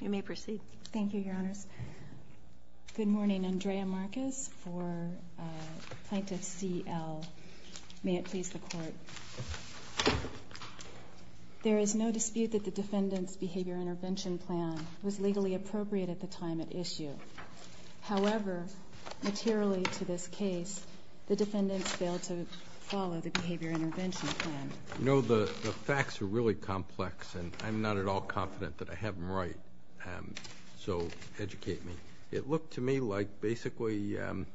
You may proceed. Thank you, Your Honors. Good morning. Andrea Marcus for Plaintiff C. L. May it please the Court. There is no dispute that the defendant's behavior intervention plan was legally appropriate at the time at issue. However, materially to this case, the defendants failed to follow the behavior intervention plan. You know, the facts are really complex, and I'm not at all confident that I have them right. So educate me. It looked to me like basically the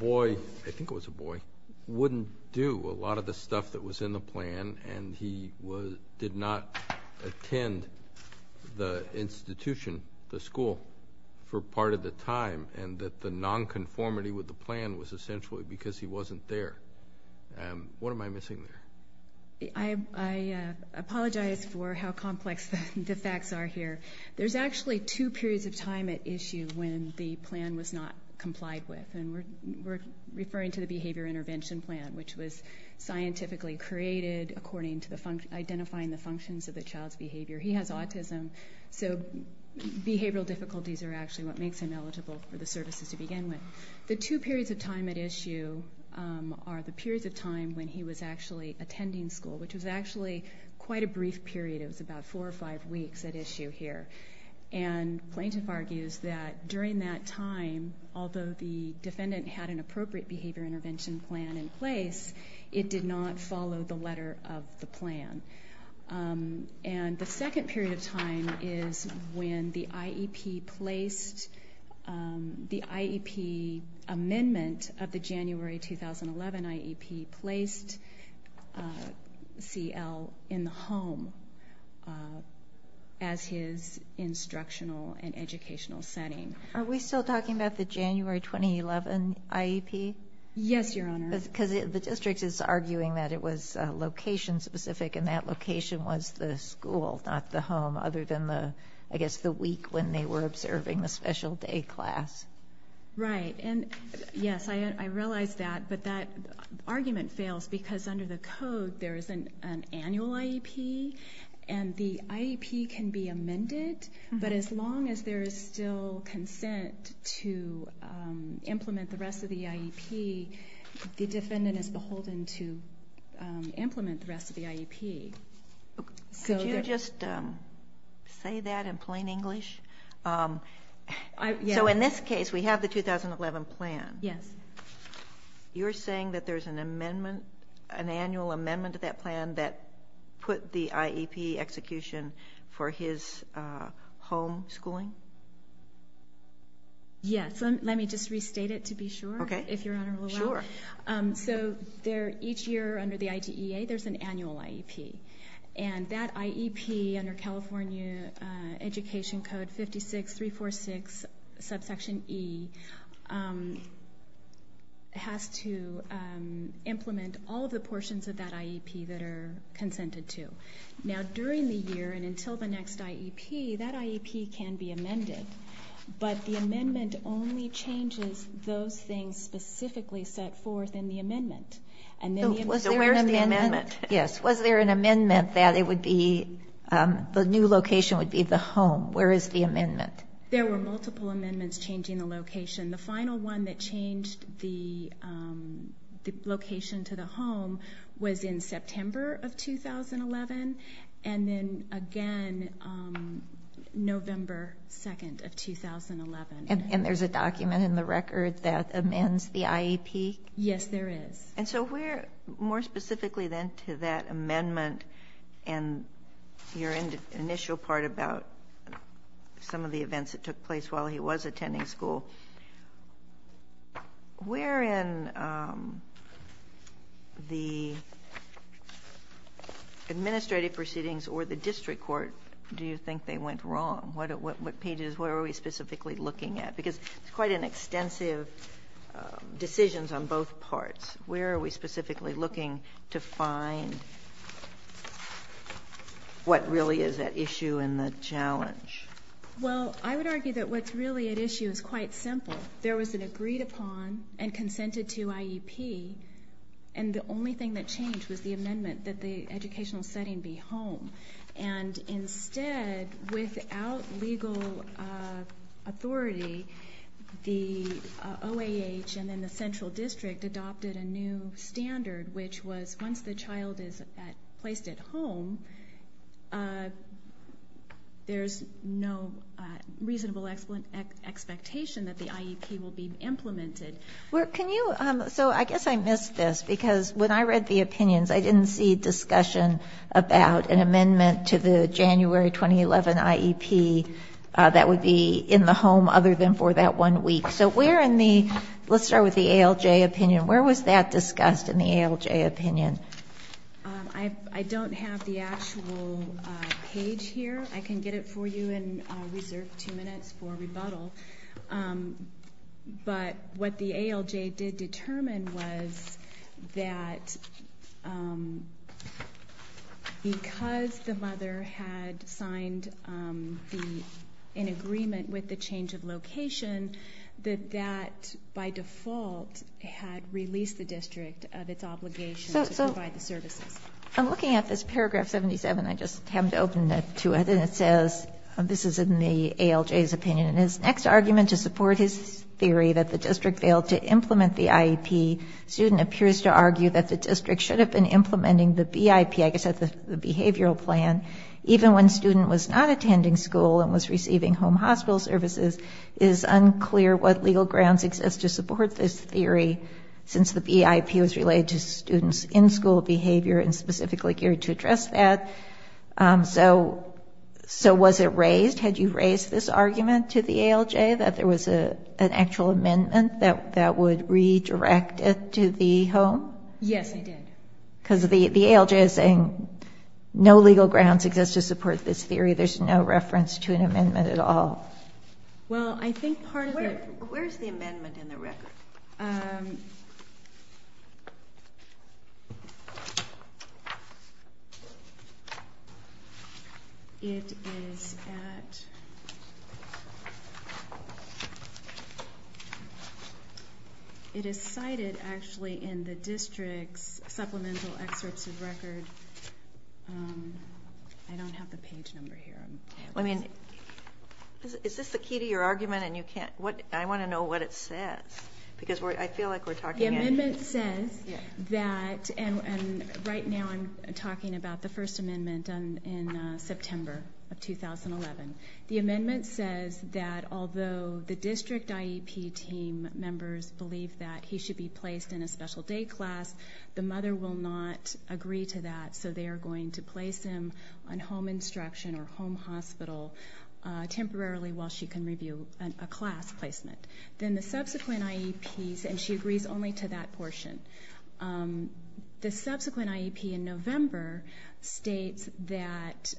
boy, I think it was a boy, wouldn't do a lot of the stuff that was in the plan, and he did not attend the institution, the school, for part of the time, and that the nonconformity with the plan was essentially because he wasn't there. What am I missing there? I apologize for how complex the facts are here. There's actually two periods of time at issue when the plan was not complied with, and we're referring to the behavior intervention plan, which was scientifically created according to identifying the functions of the child's behavior. He has autism, so behavioral difficulties are actually what makes him eligible for the services to begin with. The two periods of time at issue are the periods of time when he was actually attending school, which was actually quite a brief period. It was about four or five weeks at issue here. And plaintiff argues that during that time, although the defendant had an appropriate behavior intervention plan in place, it did not follow the letter of the plan. And the second period of time is when the IEP placed the IEP amendment of the January 2011 IEP placed CL in the home as his instructional and educational setting. Are we still talking about the January 2011 IEP? Yes, Your Honor. Because the district is arguing that it was location-specific, and that location was the school, not the home, other than, I guess, the week when they were observing the special day class. Right. And, yes, I realize that, but that argument fails because under the code, there is an annual IEP, and the IEP can be amended. But as long as there is still consent to implement the rest of the IEP, the defendant is beholden to implement the rest of the IEP. Could you just say that in plain English? Yes. So in this case, we have the 2011 plan. Yes. You're saying that there's an amendment, an annual amendment to that plan that put the IEP execution for his home schooling? Yes. Let me just restate it to be sure, if Your Honor will allow it. Okay. Sure. So each year under the IDEA, there's an annual IEP. And that IEP under California Education Code 56-346, subsection E, has to implement all of the portions of that IEP that are consented to. Now, during the year and until the next IEP, that IEP can be amended, but the amendment only changes those things specifically set forth in the amendment. So where's the amendment? Yes. Was there an amendment that it would be the new location would be the home? Where is the amendment? There were multiple amendments changing the location. The final one that changed the location to the home was in September of 2011, and then again November 2nd of 2011. And there's a document in the record that amends the IEP? Yes, there is. And so where more specifically then to that amendment and your initial part about some of the events that took place while he was attending school, where in the administrative proceedings or the district court do you think they went wrong? What pages, where are we specifically looking at? Because it's quite an extensive decisions on both parts. Where are we specifically looking to find what really is at issue and the challenge? Well, I would argue that what's really at issue is quite simple. There was an agreed upon and consented to IEP, and the only thing that changed was the amendment that the educational setting be home. And instead, without legal authority, the OAH and then the central district adopted a new standard, which was once the child is placed at home, there's no reasonable expectation that the IEP will be implemented. Can you, so I guess I missed this because when I read the opinions, I didn't see discussion about an amendment to the January 2011 IEP that would be in the home other than for that one week. So where in the, let's start with the ALJ opinion. Where was that discussed in the ALJ opinion? I don't have the actual page here. I can get it for you and reserve two minutes for rebuttal. But what the ALJ did determine was that because the mother had signed an agreement with the change of location, that that by default had released the district of its obligation to provide the services. I'm looking at this paragraph 77. I just happened to open it to it, and it says, this is in the ALJ's opinion, and his next argument to support his theory that the district failed to implement the IEP, student appears to argue that the district should have been implementing the BIP, I guess that's the behavioral plan, even when student was not attending school and was receiving home hospital services. It is unclear what legal grounds exist to support this theory, since the BIP was related to students' in-school behavior and specifically geared to address that. So was it raised? Had you raised this argument to the ALJ that there was an actual amendment that would redirect it to the home? Yes, I did. Because the ALJ is saying no legal grounds exist to support this theory. There's no reference to an amendment at all. Well, I think part of it... Where's the amendment in the record? It is at... It is cited, actually, in the district's supplemental excerpts of record. I don't have the page number here. I mean, is this the key to your argument? I want to know what it says, because I feel like we're talking... The amendment says that, and right now I'm talking about the first amendment in September of 2011. The amendment says that although the district IEP team members believe that he should be placed in a special day class, the mother will not agree to that. So they are going to place him on home instruction or home hospital temporarily while she can review a class placement. Then the subsequent IEPs... And she agrees only to that portion. The subsequent IEP in November states that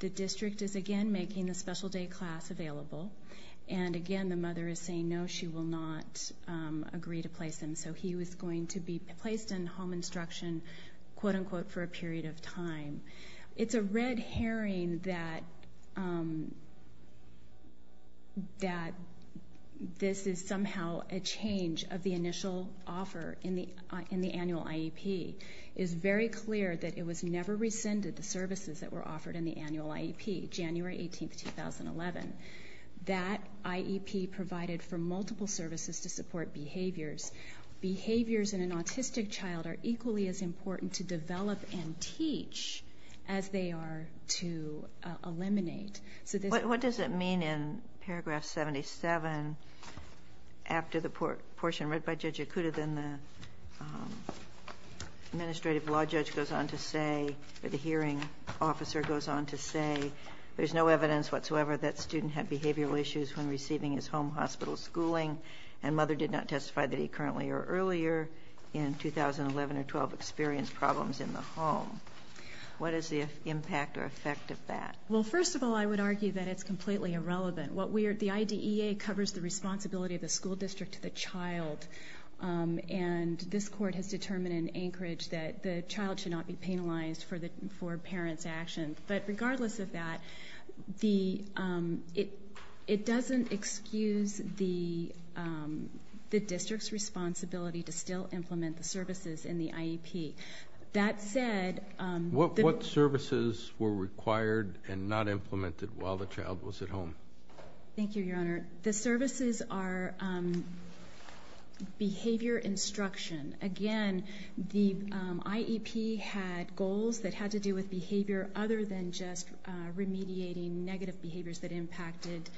the district is again making the special day class available. And again, the mother is saying no, she will not agree to place him. And so he was going to be placed in home instruction, quote-unquote, for a period of time. It's a red herring that this is somehow a change of the initial offer in the annual IEP. It's very clear that it was never rescinded, the services that were offered in the annual IEP, January 18, 2011. That IEP provided for multiple services to support behaviors. Behaviors in an autistic child are equally as important to develop and teach as they are to eliminate. What does it mean in paragraph 77? After the portion read by Judge Okuda, then the administrative law judge goes on to say, or the hearing officer goes on to say, there's no evidence whatsoever that student had behavioral issues when receiving his home hospital schooling. And mother did not testify that he currently or earlier in 2011 or 12 experienced problems in the home. What is the impact or effect of that? Well, first of all, I would argue that it's completely irrelevant. The IDEA covers the responsibility of the school district to the child. And this court has determined in Anchorage that the child should not be penalized for parents' actions. But regardless of that, it doesn't excuse the district's responsibility to still implement the services in the IEP. That said- What services were required and not implemented while the child was at home? Thank you, Your Honor. The services are behavior instruction. Again, the IEP had goals that had to do with behavior other than just remediating negative behaviors that impacted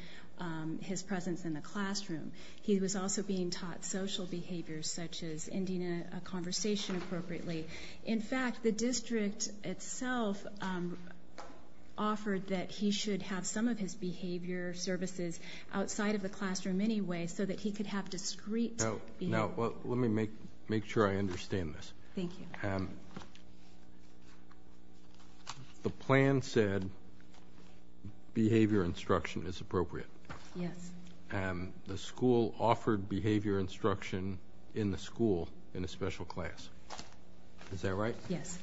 his presence in the classroom. He was also being taught social behaviors, such as ending a conversation appropriately. In fact, the district itself offered that he should have some of his behavior services outside of the classroom anyway, so that he could have discreet behavior. Now, let me make sure I understand this. Thank you. The plan said behavior instruction is appropriate. Yes. The school offered behavior instruction in the school in a special class. Is that right? Yes.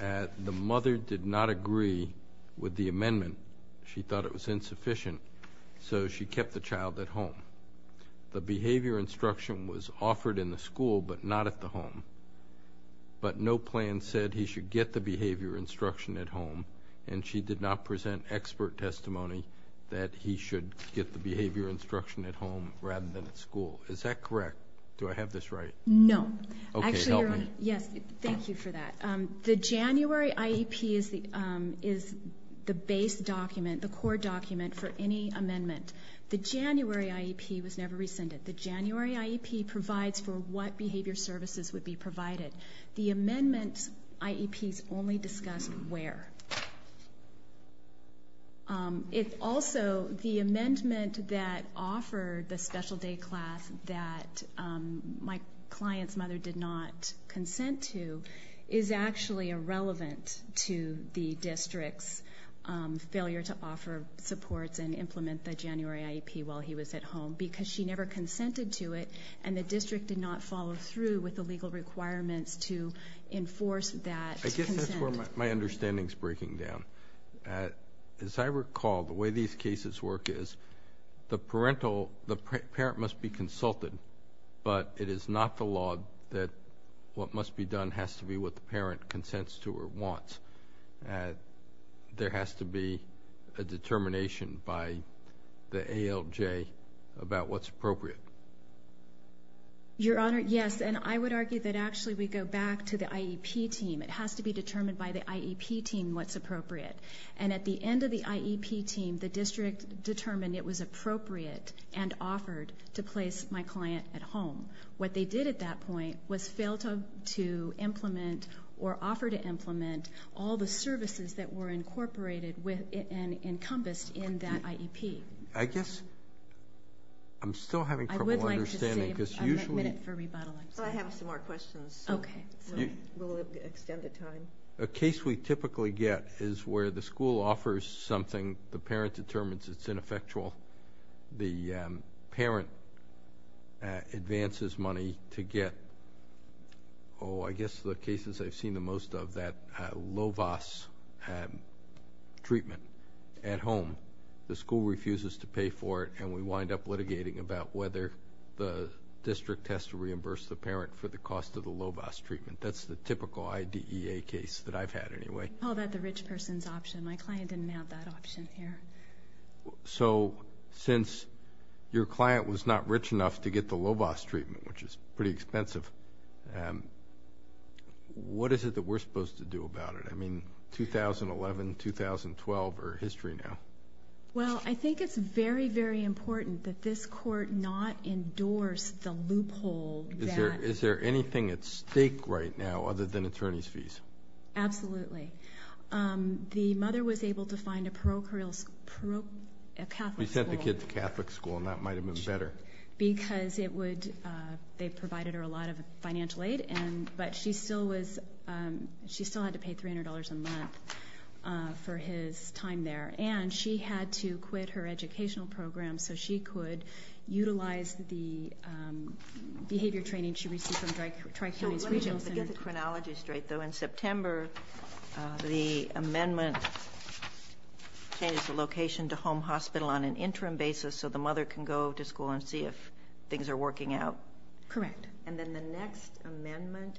The mother did not agree with the amendment. She thought it was insufficient, so she kept the child at home. The behavior instruction was offered in the school but not at the home. But no plan said he should get the behavior instruction at home, and she did not present expert testimony that he should get the behavior instruction at home rather than at school. Is that correct? Do I have this right? No. Okay, help me. Actually, Your Honor, yes. Thank you for that. The January IEP is the base document, the core document for any amendment. The January IEP was never rescinded. The January IEP provides for what behavior services would be provided. The amendment IEPs only discuss where. Also, the amendment that offered the special day class that my client's mother did not consent to is actually irrelevant to the district's failure to offer supports and implement the January IEP while he was at home because she never consented to it, and the district did not follow through with the legal requirements to enforce that consent. I guess that's where my understanding is breaking down. As I recall, the way these cases work is the parent must be consulted, but it is not the law that what must be done has to be what the parent consents to or wants. There has to be a determination by the ALJ about what's appropriate. Your Honor, yes, and I would argue that actually we go back to the IEP team. It has to be determined by the IEP team what's appropriate, and at the end of the IEP team, the district determined it was appropriate and offered to place my client at home. What they did at that point was fail to implement or offer to implement all the services that were incorporated and encompassed in that IEP. I guess I'm still having trouble understanding. I would like to save a minute for rebuttal. I have some more questions, so we'll extend the time. A case we typically get is where the school offers something. The parent determines it's ineffectual. The parent advances money to get, oh, I guess the cases I've seen the most of, that LOVAS treatment at home. The school refuses to pay for it, and we wind up litigating about whether the district has to reimburse the parent for the cost of the LOVAS treatment. That's the typical IDEA case that I've had anyway. We call that the rich person's option. My client didn't have that option here. Since your client was not rich enough to get the LOVAS treatment, which is pretty expensive, what is it that we're supposed to do about it? I mean, 2011, 2012 are history now. I think it's very, very important that this court not endorse the loophole that... Is there anything at stake right now other than attorney's fees? Absolutely. The mother was able to find a Catholic school... We sent the kid to Catholic school, and that might have been better. Because they provided her a lot of financial aid, but she still had to pay $300 a month for his time there. And she had to quit her educational program so she could utilize the behavior training she received from Tri-Communities Regional Center. Let me get the chronology straight, though. In September, the amendment changes the location to home hospital on an interim basis so the mother can go to school and see if things are working out. Correct. And then the next amendment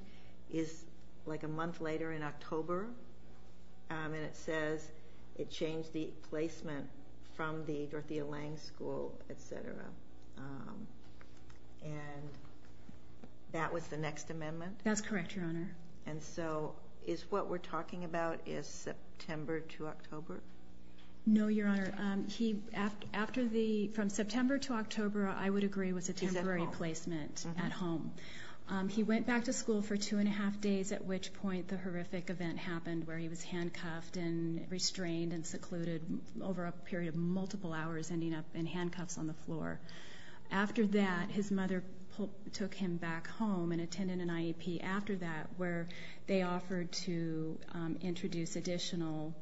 is like a month later in October, and it says it changed the placement from the Dorothea Lange School, et cetera. And that was the next amendment? That's correct, Your Honor. And so what we're talking about is September to October? No, Your Honor. From September to October, I would agree, was a temporary placement at home. He went back to school for two and a half days, at which point the horrific event happened where he was handcuffed and restrained and secluded over a period of multiple hours, ending up in handcuffs on the floor. After that, his mother took him back home and attended an IEP after that where they offered to introduce additional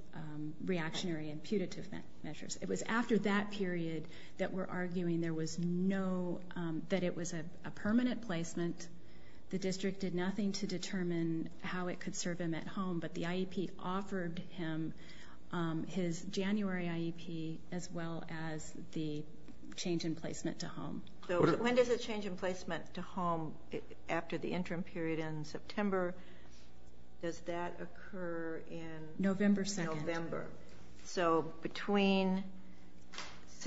reactionary and putative measures. It was after that period that we're arguing that it was a permanent placement. The district did nothing to determine how it could serve him at home, but the IEP offered him his January IEP as well as the change in placement to home. So when does the change in placement to home after the interim period in September, does that occur in November? So between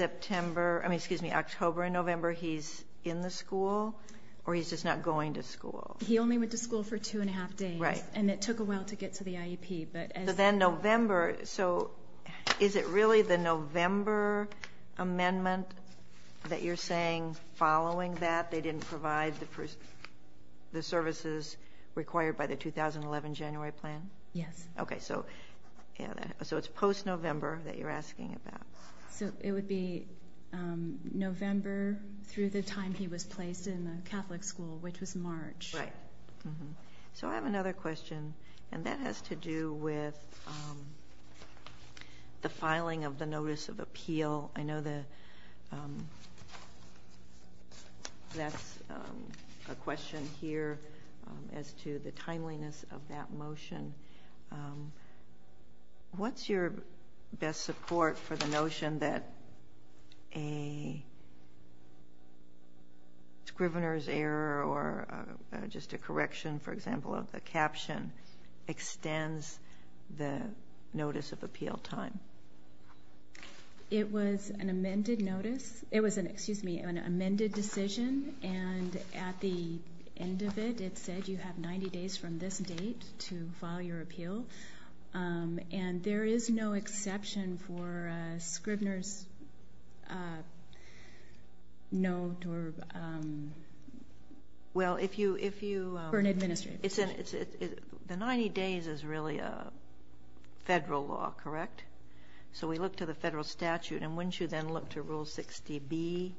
October and November, he's in the school, or he's just not going to school? He only went to school for two and a half days, and it took a while to get to the IEP. So then November, so is it really the November amendment that you're saying following that they didn't provide the services required by the 2011 January plan? Yes. Okay, so it's post-November that you're asking about. So it would be November through the time he was placed in the Catholic school, which was March. Right. So I have another question, and that has to do with the filing of the notice of appeal. I know that's a question here as to the timeliness of that motion. What's your best support for the notion that a scrivener's error or just a correction, for example, of the caption extends the notice of appeal time? It was an amended notice. It was an amended decision, and at the end of it, it said you have 90 days from this date to file your appeal, and there is no exception for a scrivener's note or an administrative note. The 90 days is really a federal law, correct? So we look to the federal statute, and wouldn't you then look to Rule 60B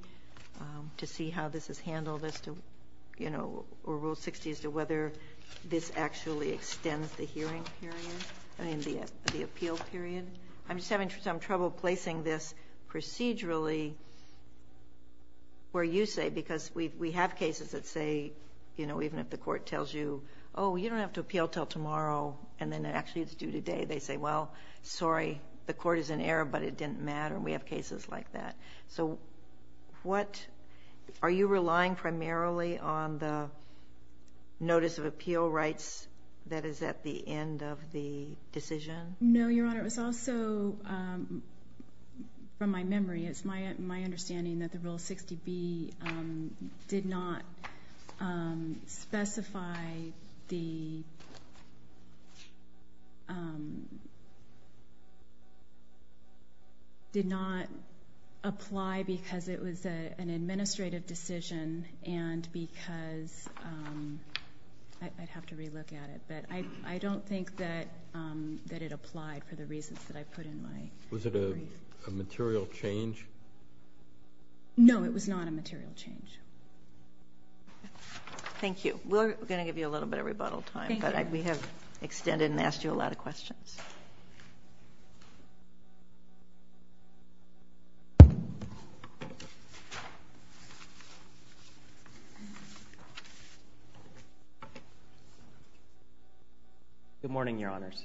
to see how this is handled as to, you know, or Rule 60 as to whether this actually extends the hearing period, I mean, the appeal period? I'm just having some trouble placing this procedurally where you say, because we have cases that say, you know, even if the court tells you, oh, you don't have to appeal until tomorrow, and then actually it's due today, they say, well, sorry, the court is in error, but it didn't matter, and we have cases like that. So are you relying primarily on the notice of appeal rights that is at the end of the decision? No, Your Honor. Your Honor, it was also, from my memory, it's my understanding that the Rule 60B did not specify the, did not apply because it was an administrative decision and because, I'd have to relook at it, but I don't think that it applied for the reasons that I put in my brief. Was it a material change? No, it was not a material change. Thank you. We're going to give you a little bit of rebuttal time. Thank you. But we have extended and asked you a lot of questions. Good morning, Your Honors.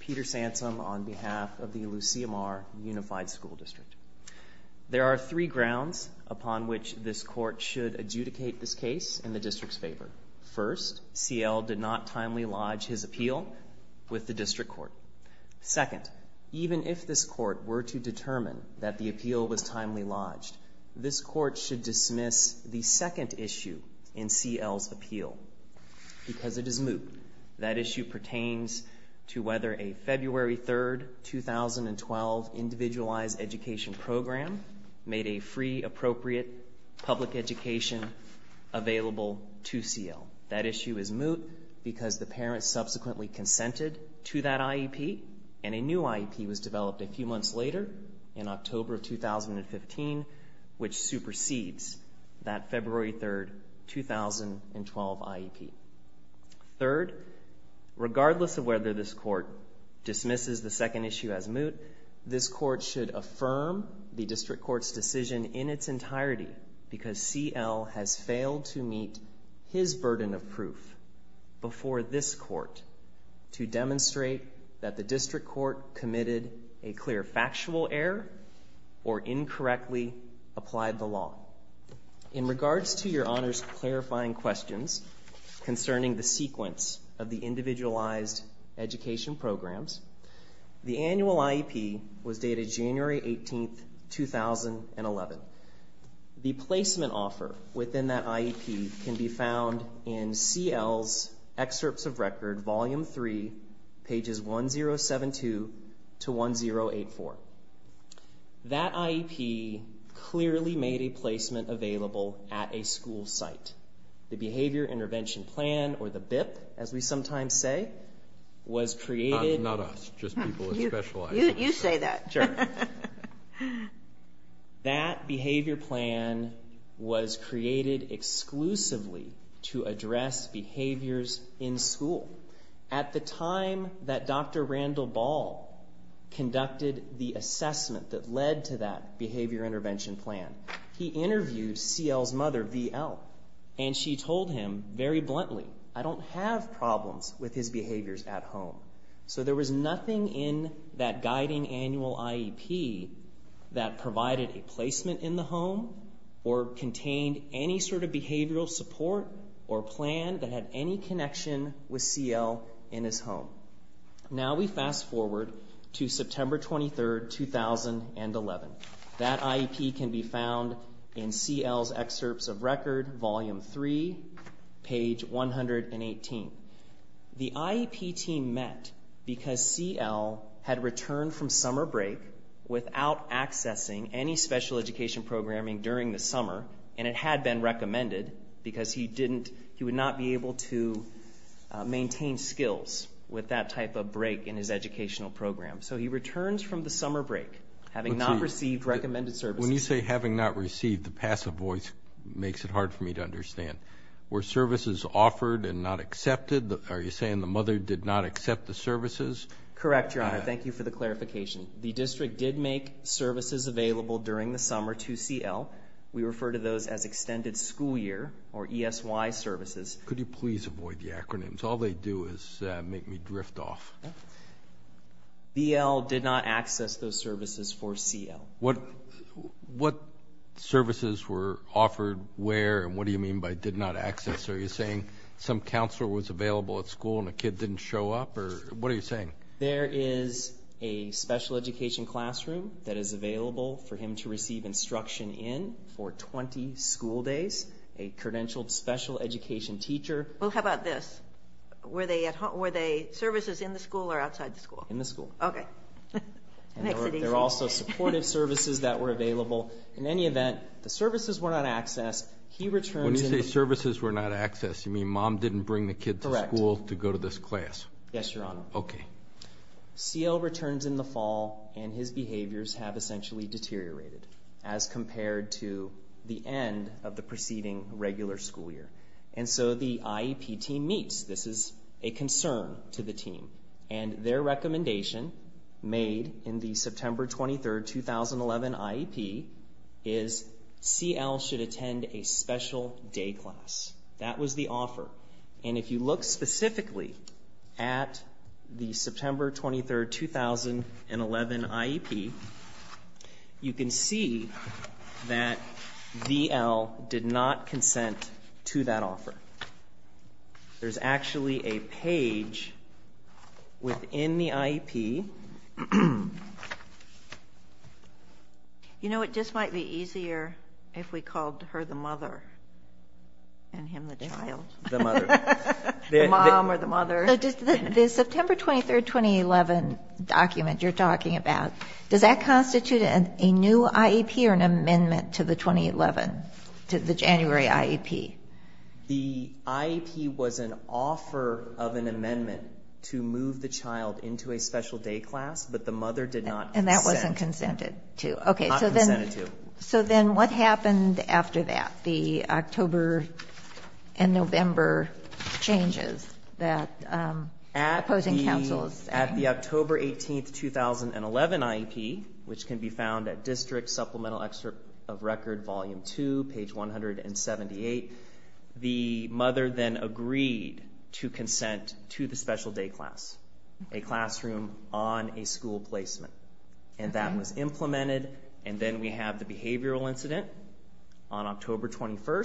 Peter Sansom on behalf of the Lucia Mar Unified School District. There are three grounds upon which this court should adjudicate this case in the district's favor. First, CL did not timely lodge his appeal with the district court. Second, even if this court were to determine that the appeal was timely lodged, this court should dismiss the second issue in CL's appeal because it is moot. That issue pertains to whether a February 3, 2012, individualized education program made a free, appropriate public education available to CL. That issue is moot because the parents subsequently consented to that IEP, and a new IEP was developed a few months later in October of 2015, which supersedes that February 3, 2012, IEP. Third, regardless of whether this court dismisses the second issue as moot, this court should affirm the district court's decision in its entirety because CL has failed to meet his burden of proof before this court to demonstrate that the district court committed a clear factual error or incorrectly applied the law. In regards to Your Honors' clarifying questions concerning the sequence of the individualized education programs, the annual IEP was dated January 18, 2011. The placement offer within that IEP can be found in CL's Excerpts of Record, Volume 3, pages 1072-1084. That IEP clearly made a placement available at a school site. The Behavior Intervention Plan, or the BIP as we sometimes say, was created Not us, just people with specializing skills. You say that. That behavior plan was created exclusively to address behaviors in school. At the time that Dr. Randall Ball conducted the assessment that led to that Behavior Intervention Plan, he interviewed CL's mother, V.L., and she told him very bluntly, I don't have problems with his behaviors at home. So there was nothing in that guiding annual IEP that provided a placement in the home or contained any sort of behavioral support or plan that had any connection with CL in his home. Now we fast forward to September 23, 2011. That IEP can be found in CL's Excerpts of Record, Volume 3, page 118. The IEP team met because CL had returned from summer break without accessing any special education programming during the summer, and it had been recommended because he would not be able to maintain skills with that type of break in his educational program. So he returns from the summer break having not received recommended services. When you say having not received, the passive voice makes it hard for me to understand. Were services offered and not accepted? Are you saying the mother did not accept the services? Correct, Your Honor. Thank you for the clarification. The district did make services available during the summer to CL. We refer to those as extended school year or ESY services. Could you please avoid the acronyms? All they do is make me drift off. V.L. did not access those services for CL. What services were offered where, and what do you mean by did not access? Are you saying some counselor was available at school and a kid didn't show up? What are you saying? There is a special education classroom that is available for him to receive instruction in for 20 school days, a credentialed special education teacher. Well, how about this? Were they services in the school or outside the school? In the school. Okay. They're also supportive services that were available. In any event, the services were not accessed. When you say services were not accessed, you mean mom didn't bring the kid to school to go to this class? Yes, Your Honor. Okay. CL returns in the fall, and his behaviors have essentially deteriorated as compared to the end of the preceding regular school year. And so the IEP team meets. This is a concern to the team. And their recommendation made in the September 23, 2011 IEP is CL should attend a special day class. That was the offer. And if you look specifically at the September 23, 2011 IEP, you can see that VL did not consent to that offer. There's actually a page within the IEP. You know, it just might be easier if we called her the mother and him the child. The mother. The mom or the mother. The September 23, 2011 document you're talking about, does that constitute a new IEP or an amendment to the 2011, to the January IEP? The IEP was an offer of an amendment to move the child into a special day class, but the mother did not consent. And that wasn't consented to. Not consented to. Okay. So then what happened after that? The October and November changes that opposing counsels. At the October 18, 2011 IEP, which can be found at District Supplemental Excerpt of Record Volume 2, page 178, the mother then agreed to consent to the special day class, a classroom on a school placement. And that was implemented. And then we have the behavioral incident on October 21.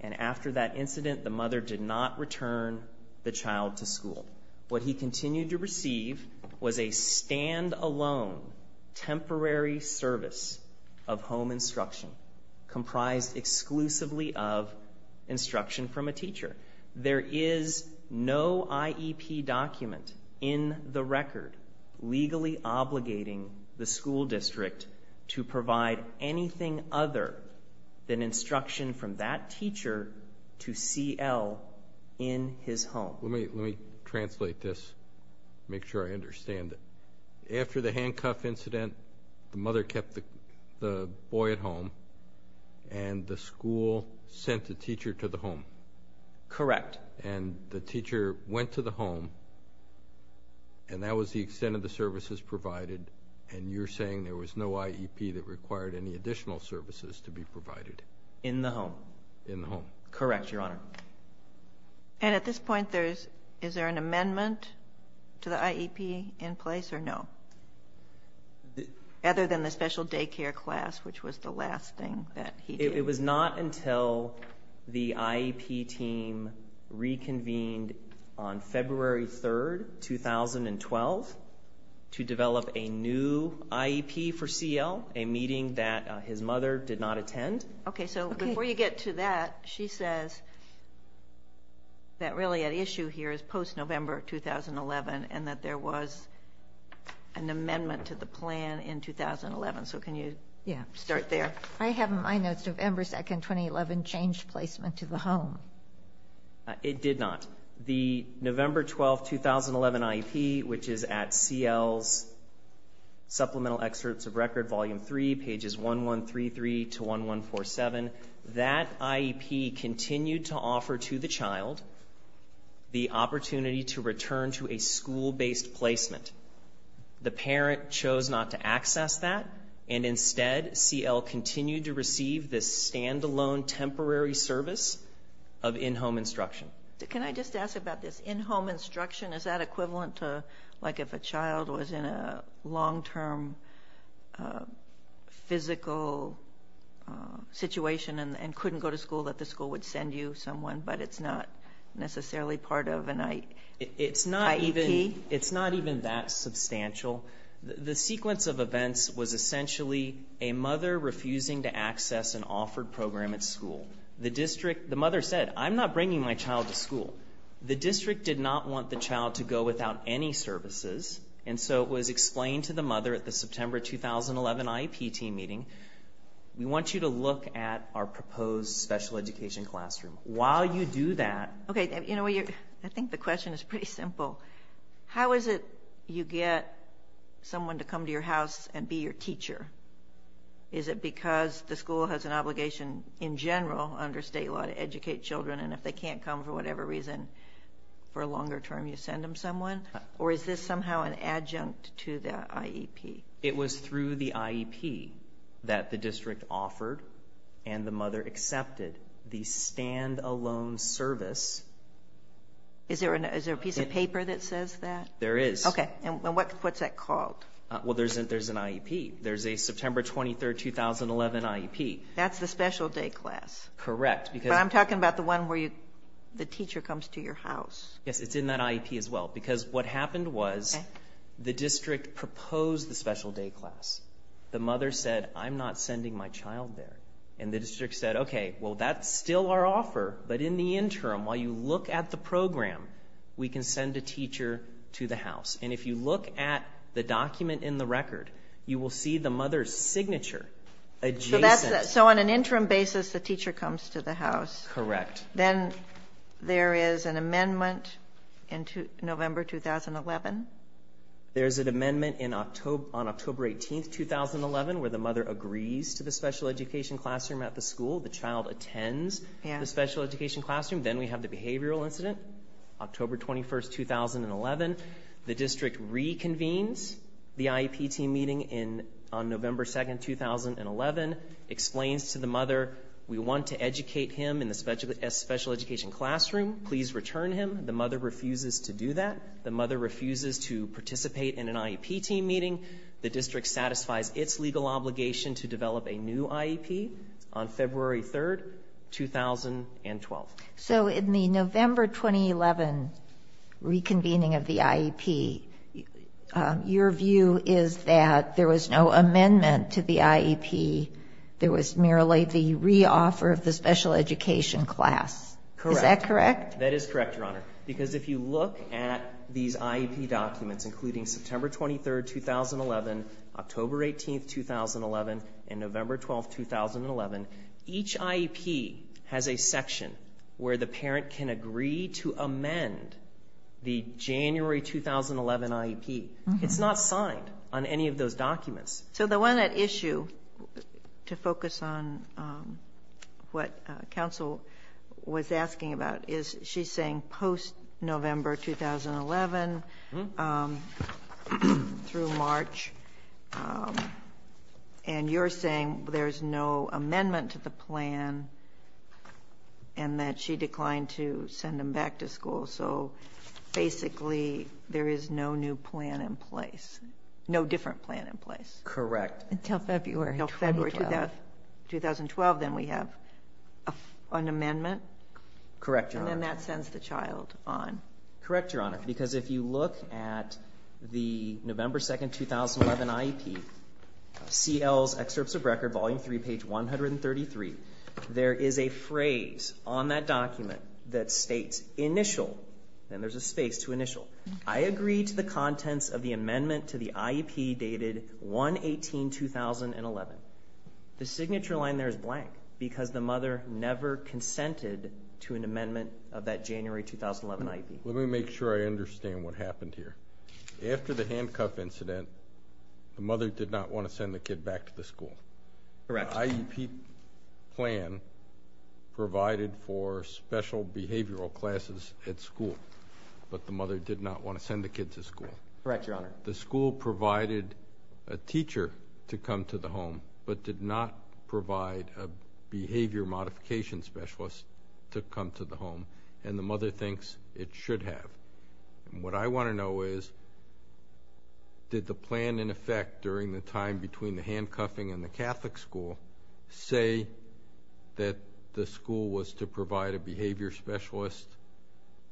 And after that incident, the mother did not return the child to school. What he continued to receive was a stand-alone temporary service of home instruction comprised exclusively of instruction from a teacher. There is no IEP document in the record legally obligating the school district to provide anything other than instruction from that teacher to CL in his home. Let me translate this, make sure I understand it. After the handcuff incident, the mother kept the boy at home, and the school sent a teacher to the home? Correct. And the teacher went to the home, and that was the extent of the services provided, and you're saying there was no IEP that required any additional services to be provided? In the home. In the home. Correct, Your Honor. And at this point, is there an amendment to the IEP in place or no? Other than the special daycare class, which was the last thing that he did. It was not until the IEP team reconvened on February 3, 2012, to develop a new IEP for CL, a meeting that his mother did not attend. Okay, so before you get to that, she says that really at issue here is post-November 2011 and that there was an amendment to the plan in 2011. So can you start there? I have in my notes November 2, 2011 changed placement to the home. It did not. The November 12, 2011 IEP, which is at CL's supplemental excerpts of record, volume 3, pages 1133 to 1147, that IEP continued to offer to the child the opportunity to return to a school-based placement. The parent chose not to access that, and instead CL continued to receive this standalone temporary service of in-home instruction. Can I just ask about this in-home instruction? Is that equivalent to like if a child was in a long-term physical situation and couldn't go to school, that the school would send you someone, but it's not necessarily part of an IEP? It's not even that substantial. The sequence of events was essentially a mother refusing to access an offered program at school. The mother said, I'm not bringing my child to school. The district did not want the child to go without any services, and so it was explained to the mother at the September 2011 IEP team meeting, we want you to look at our proposed special education classroom. While you do that... I think the question is pretty simple. How is it you get someone to come to your house and be your teacher? Is it because the school has an obligation in general under state law to educate children, and if they can't come for whatever reason for a longer term, you send them someone? Or is this somehow an adjunct to the IEP? It was through the IEP that the district offered and the mother accepted the standalone service. Is there a piece of paper that says that? There is. Okay. And what's that called? Well, there's an IEP. There's a September 23, 2011 IEP. That's the special day class. Correct. But I'm talking about the one where the teacher comes to your house. Yes, it's in that IEP as well. Because what happened was the district proposed the special day class. The mother said, I'm not sending my child there. And the district said, okay, well, that's still our offer. But in the interim, while you look at the program, we can send a teacher to the house. And if you look at the document in the record, you will see the mother's signature adjacent. So on an interim basis, the teacher comes to the house. Correct. Then there is an amendment in November 2011. There's an amendment on October 18, 2011, where the mother agrees to the special education classroom at the school. The child attends the special education classroom. Then we have the behavioral incident, October 21, 2011. The district reconvenes the IEP team meeting on November 2, 2011, explains to the mother, we want to educate him in the special education classroom. Please return him. The mother refuses to do that. The mother refuses to participate in an IEP team meeting. The district satisfies its legal obligation to develop a new IEP on February 3, 2012. So in the November 2011 reconvening of the IEP, your view is that there was no amendment to the IEP. There was merely the re-offer of the special education class. Correct. Is that correct? That is correct, Your Honor, because if you look at these IEP documents, including September 23, 2011, October 18, 2011, and November 12, 2011, each IEP has a section where the parent can agree to amend the January 2011 IEP. It's not signed on any of those documents. So the one at issue, to focus on what counsel was asking about, is she's saying post-November 2011 through March, and you're saying there's no amendment to the plan and that she declined to send him back to school. So basically there is no new plan in place, no different plan in place. Correct. Until February 2012. Until February 2012. Then we have an amendment. Correct, Your Honor. And then that sends the child on. Correct, Your Honor, because if you look at the November 2, 2011 IEP, CL's excerpts of record, volume 3, page 133, there is a phrase on that document that states, initial, and there's a space to initial, I agree to the contents of the amendment to the IEP dated 1-18-2011. The signature line there is blank because the mother never consented to an amendment of that January 2011 IEP. Let me make sure I understand what happened here. After the handcuff incident, the mother did not want to send the kid back to the school. Correct. The IEP plan provided for special behavioral classes at school, but the mother did not want to send the kid to school. Correct, Your Honor. The school provided a teacher to come to the home but did not provide a behavior modification specialist to come to the home, and the mother thinks it should have. What I want to know is, did the plan in effect during the time between the handcuffing and the Catholic school say that the school was to provide a behavior specialist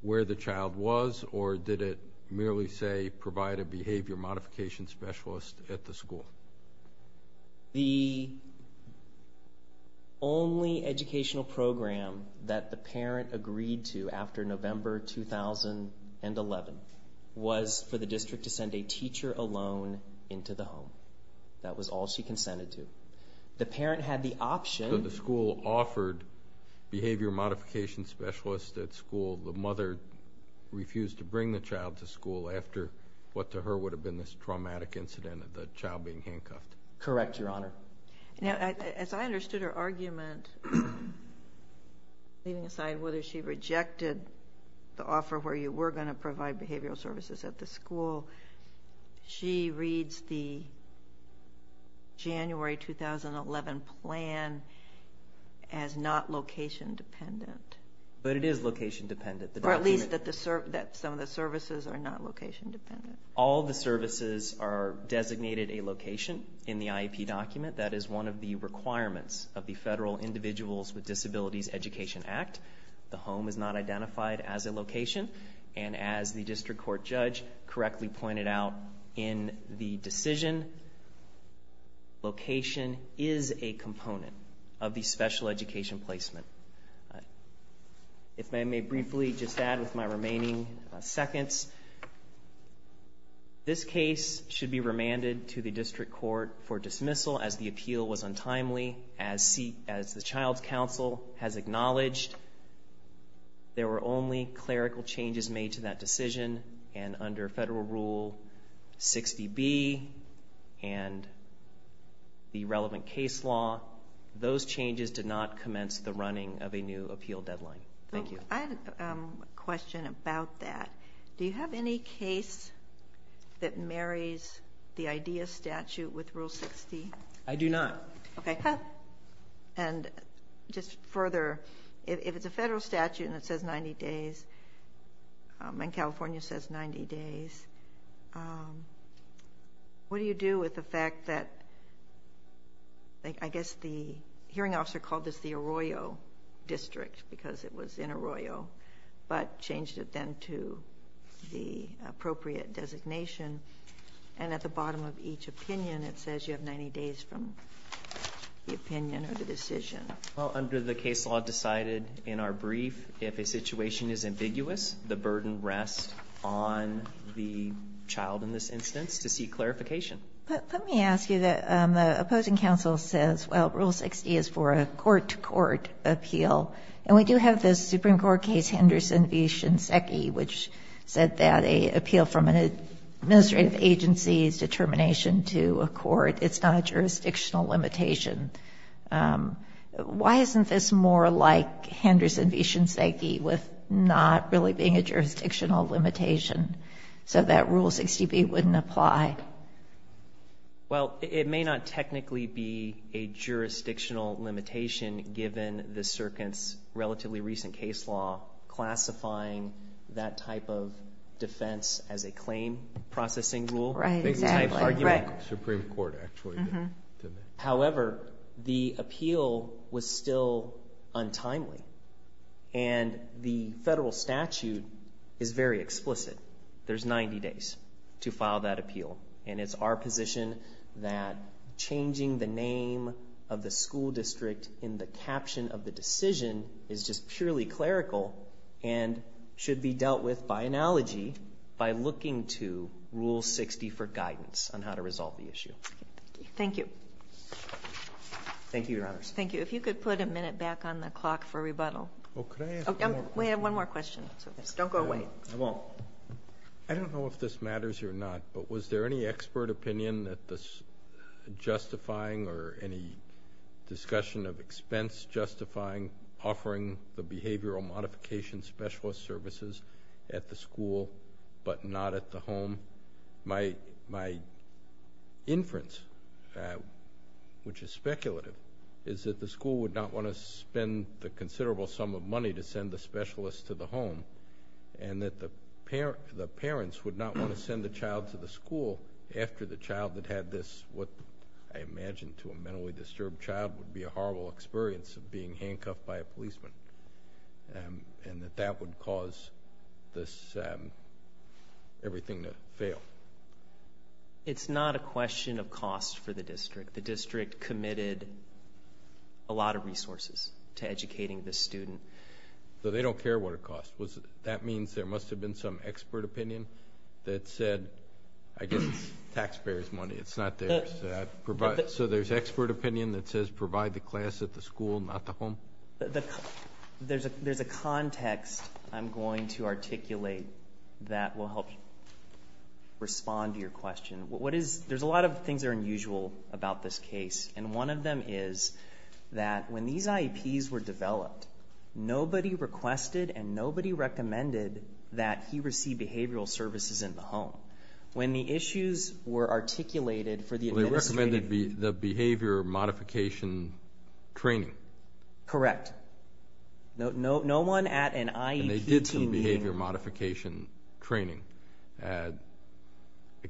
where the child was, or did it merely say provide a behavior modification specialist at the school? The only educational program that the parent agreed to after November 2011 was for the district to send a teacher alone into the home. That was all she consented to. The parent had the option. So the school offered behavior modification specialists at school. The mother refused to bring the child to school after what to her would have been this traumatic incident of the child being handcuffed. Correct, Your Honor. Now, as I understood her argument, leaving aside whether she rejected the offer where you were going to provide behavioral services at the school, she reads the January 2011 plan as not location-dependent. But it is location-dependent. Or at least that some of the services are not location-dependent. All the services are designated a location in the IEP document. That is one of the requirements of the Federal Individuals with Disabilities Education Act. The home is not identified as a location. And as the district court judge correctly pointed out in the decision, location is a component of the special education placement. If I may briefly just add with my remaining seconds, this case should be remanded to the district court for dismissal as the appeal was untimely. As the child's counsel has acknowledged, there were only clerical changes made to that decision. And under Federal Rule 60B and the relevant case law, those changes did not commence the running of a new appeal deadline. Thank you. I have a question about that. Do you have any case that marries the IDEA statute with Rule 60? I do not. Okay. And just further, if it's a federal statute and it says 90 days and California says 90 days, what do you do with the fact that I guess the hearing officer called this the Arroyo district because it was in Arroyo but changed it then to the appropriate designation. And at the bottom of each opinion, it says you have 90 days from the opinion or the decision. Well, under the case law decided in our brief, if a situation is ambiguous, the burden rests on the child in this instance to seek clarification. But let me ask you, the opposing counsel says, well, Rule 60 is for a court-to-court appeal, and we do have this Supreme Court case, Henderson v. Shinseki, which said that an appeal from an administrative agency's determination to a court, it's not a jurisdictional limitation. Why isn't this more like Henderson v. Shinseki with not really being a jurisdictional limitation so that Rule 60b wouldn't apply? Well, it may not technically be a jurisdictional limitation given the circuit's relatively recent case law classifying that type of defense as a claim processing rule. Right, exactly. Supreme Court actually did that. However, the appeal was still untimely, and the federal statute is very explicit. There's 90 days to file that appeal, and it's our position that changing the name of the school district in the caption of the decision is just purely clerical and should be dealt with by analogy by looking to Rule 60 for guidance on how to resolve the issue. Thank you. Thank you, Your Honors. Thank you. If you could put a minute back on the clock for rebuttal. Oh, could I ask one more question? We have one more question. Don't go away. I won't. I don't know if this matters or not, but was there any expert opinion that this justifying or any discussion of expense justifying offering the behavioral modification specialist services at the school but not at the home? My inference, which is speculative, is that the school would not want to spend the considerable sum of money to send the specialist to the home and that the parents would not want to send the child to the school after the child had had this, what I imagine to a mentally disturbed child would be a horrible experience of being handcuffed by a policeman, and that that would cause this, everything to fail. It's not a question of cost for the district. The district committed a lot of resources to educating the student. So they don't care what it costs. That means there must have been some expert opinion that said, I guess it's taxpayer's money. It's not theirs. So there's expert opinion that says provide the class at the school, not the home? There's a context I'm going to articulate that will help respond to your question. There's a lot of things that are unusual about this case, and one of them is that when these IEPs were developed, nobody requested and nobody recommended that he receive behavioral services in the home. When the issues were articulated for the administrative… Correct. No one at an IEP team… And they did some behavior modification training. I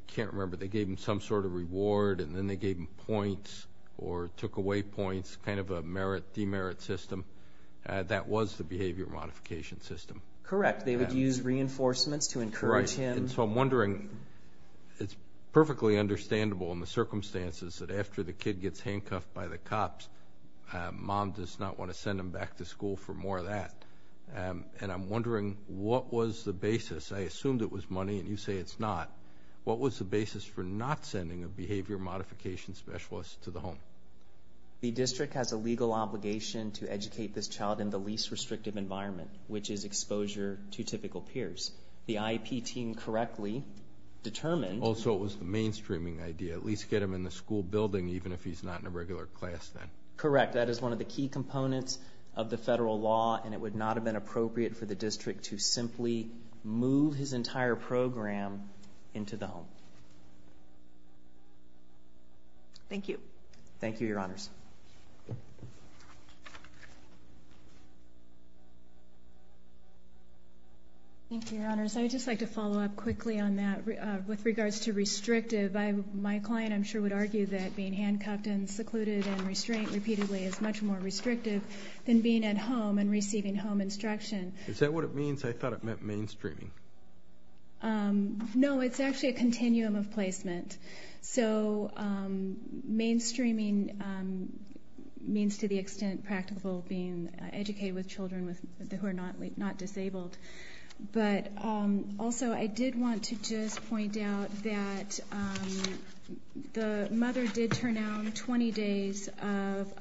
can't remember. They gave him some sort of reward, and then they gave him points or took away points, kind of a merit, demerit system. That was the behavior modification system. Correct. They would use reinforcements to encourage him. Right. And so I'm wondering, it's perfectly understandable in the circumstances that after the kid gets handcuffed by the cops, mom does not want to send him back to school for more of that. And I'm wondering, what was the basis? I assumed it was money, and you say it's not. What was the basis for not sending a behavior modification specialist to the home? The district has a legal obligation to educate this child in the least restrictive environment, which is exposure to typical peers. The IEP team correctly determined… Also, it was the mainstreaming idea, at least get him in the school building, even if he's not in a regular class then. Correct. That is one of the key components of the federal law, and it would not have been appropriate for the district to simply move his entire program into the home. Thank you. Thank you, Your Honors. Thank you, Your Honors. I would just like to follow up quickly on that with regards to restrictive. My client, I'm sure, would argue that being handcuffed and secluded and restrained repeatedly is much more restrictive than being at home and receiving home instruction. Is that what it means? I thought it meant mainstreaming. No, it's actually a continuum of placement. So mainstreaming means to the extent practical being educated with children who are not disabled. But also, I did want to just point out that the mother did turn down 20 days of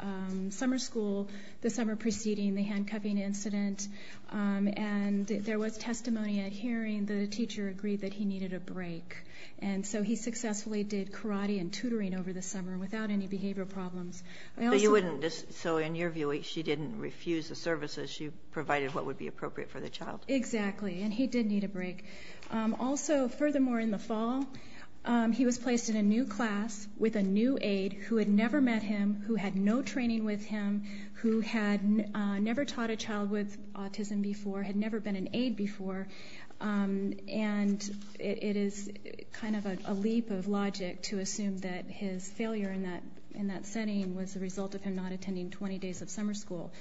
summer school the summer preceding the handcuffing incident. And there was testimony at hearing the teacher agreed that he needed a break. And so he successfully did karate and tutoring over the summer without any behavioral problems. So in your view, she didn't refuse the services. She provided what would be appropriate for the child. Exactly. And he did need a break. Also, furthermore, in the fall, he was placed in a new class with a new aide who had never met him, who had no training with him, who had never taught a child with autism before, had never been an aide before. And it is kind of a leap of logic to assume that his failure in that setting was the result of him not attending 20 days of summer school.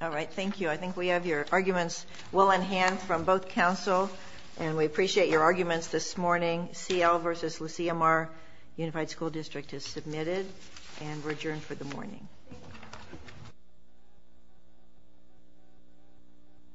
All right. Thank you. I think we have your arguments well in hand from both counsel, and we appreciate your arguments this morning. CL versus Lucia Mar, Unified School District is submitted, and we're adjourned for the morning.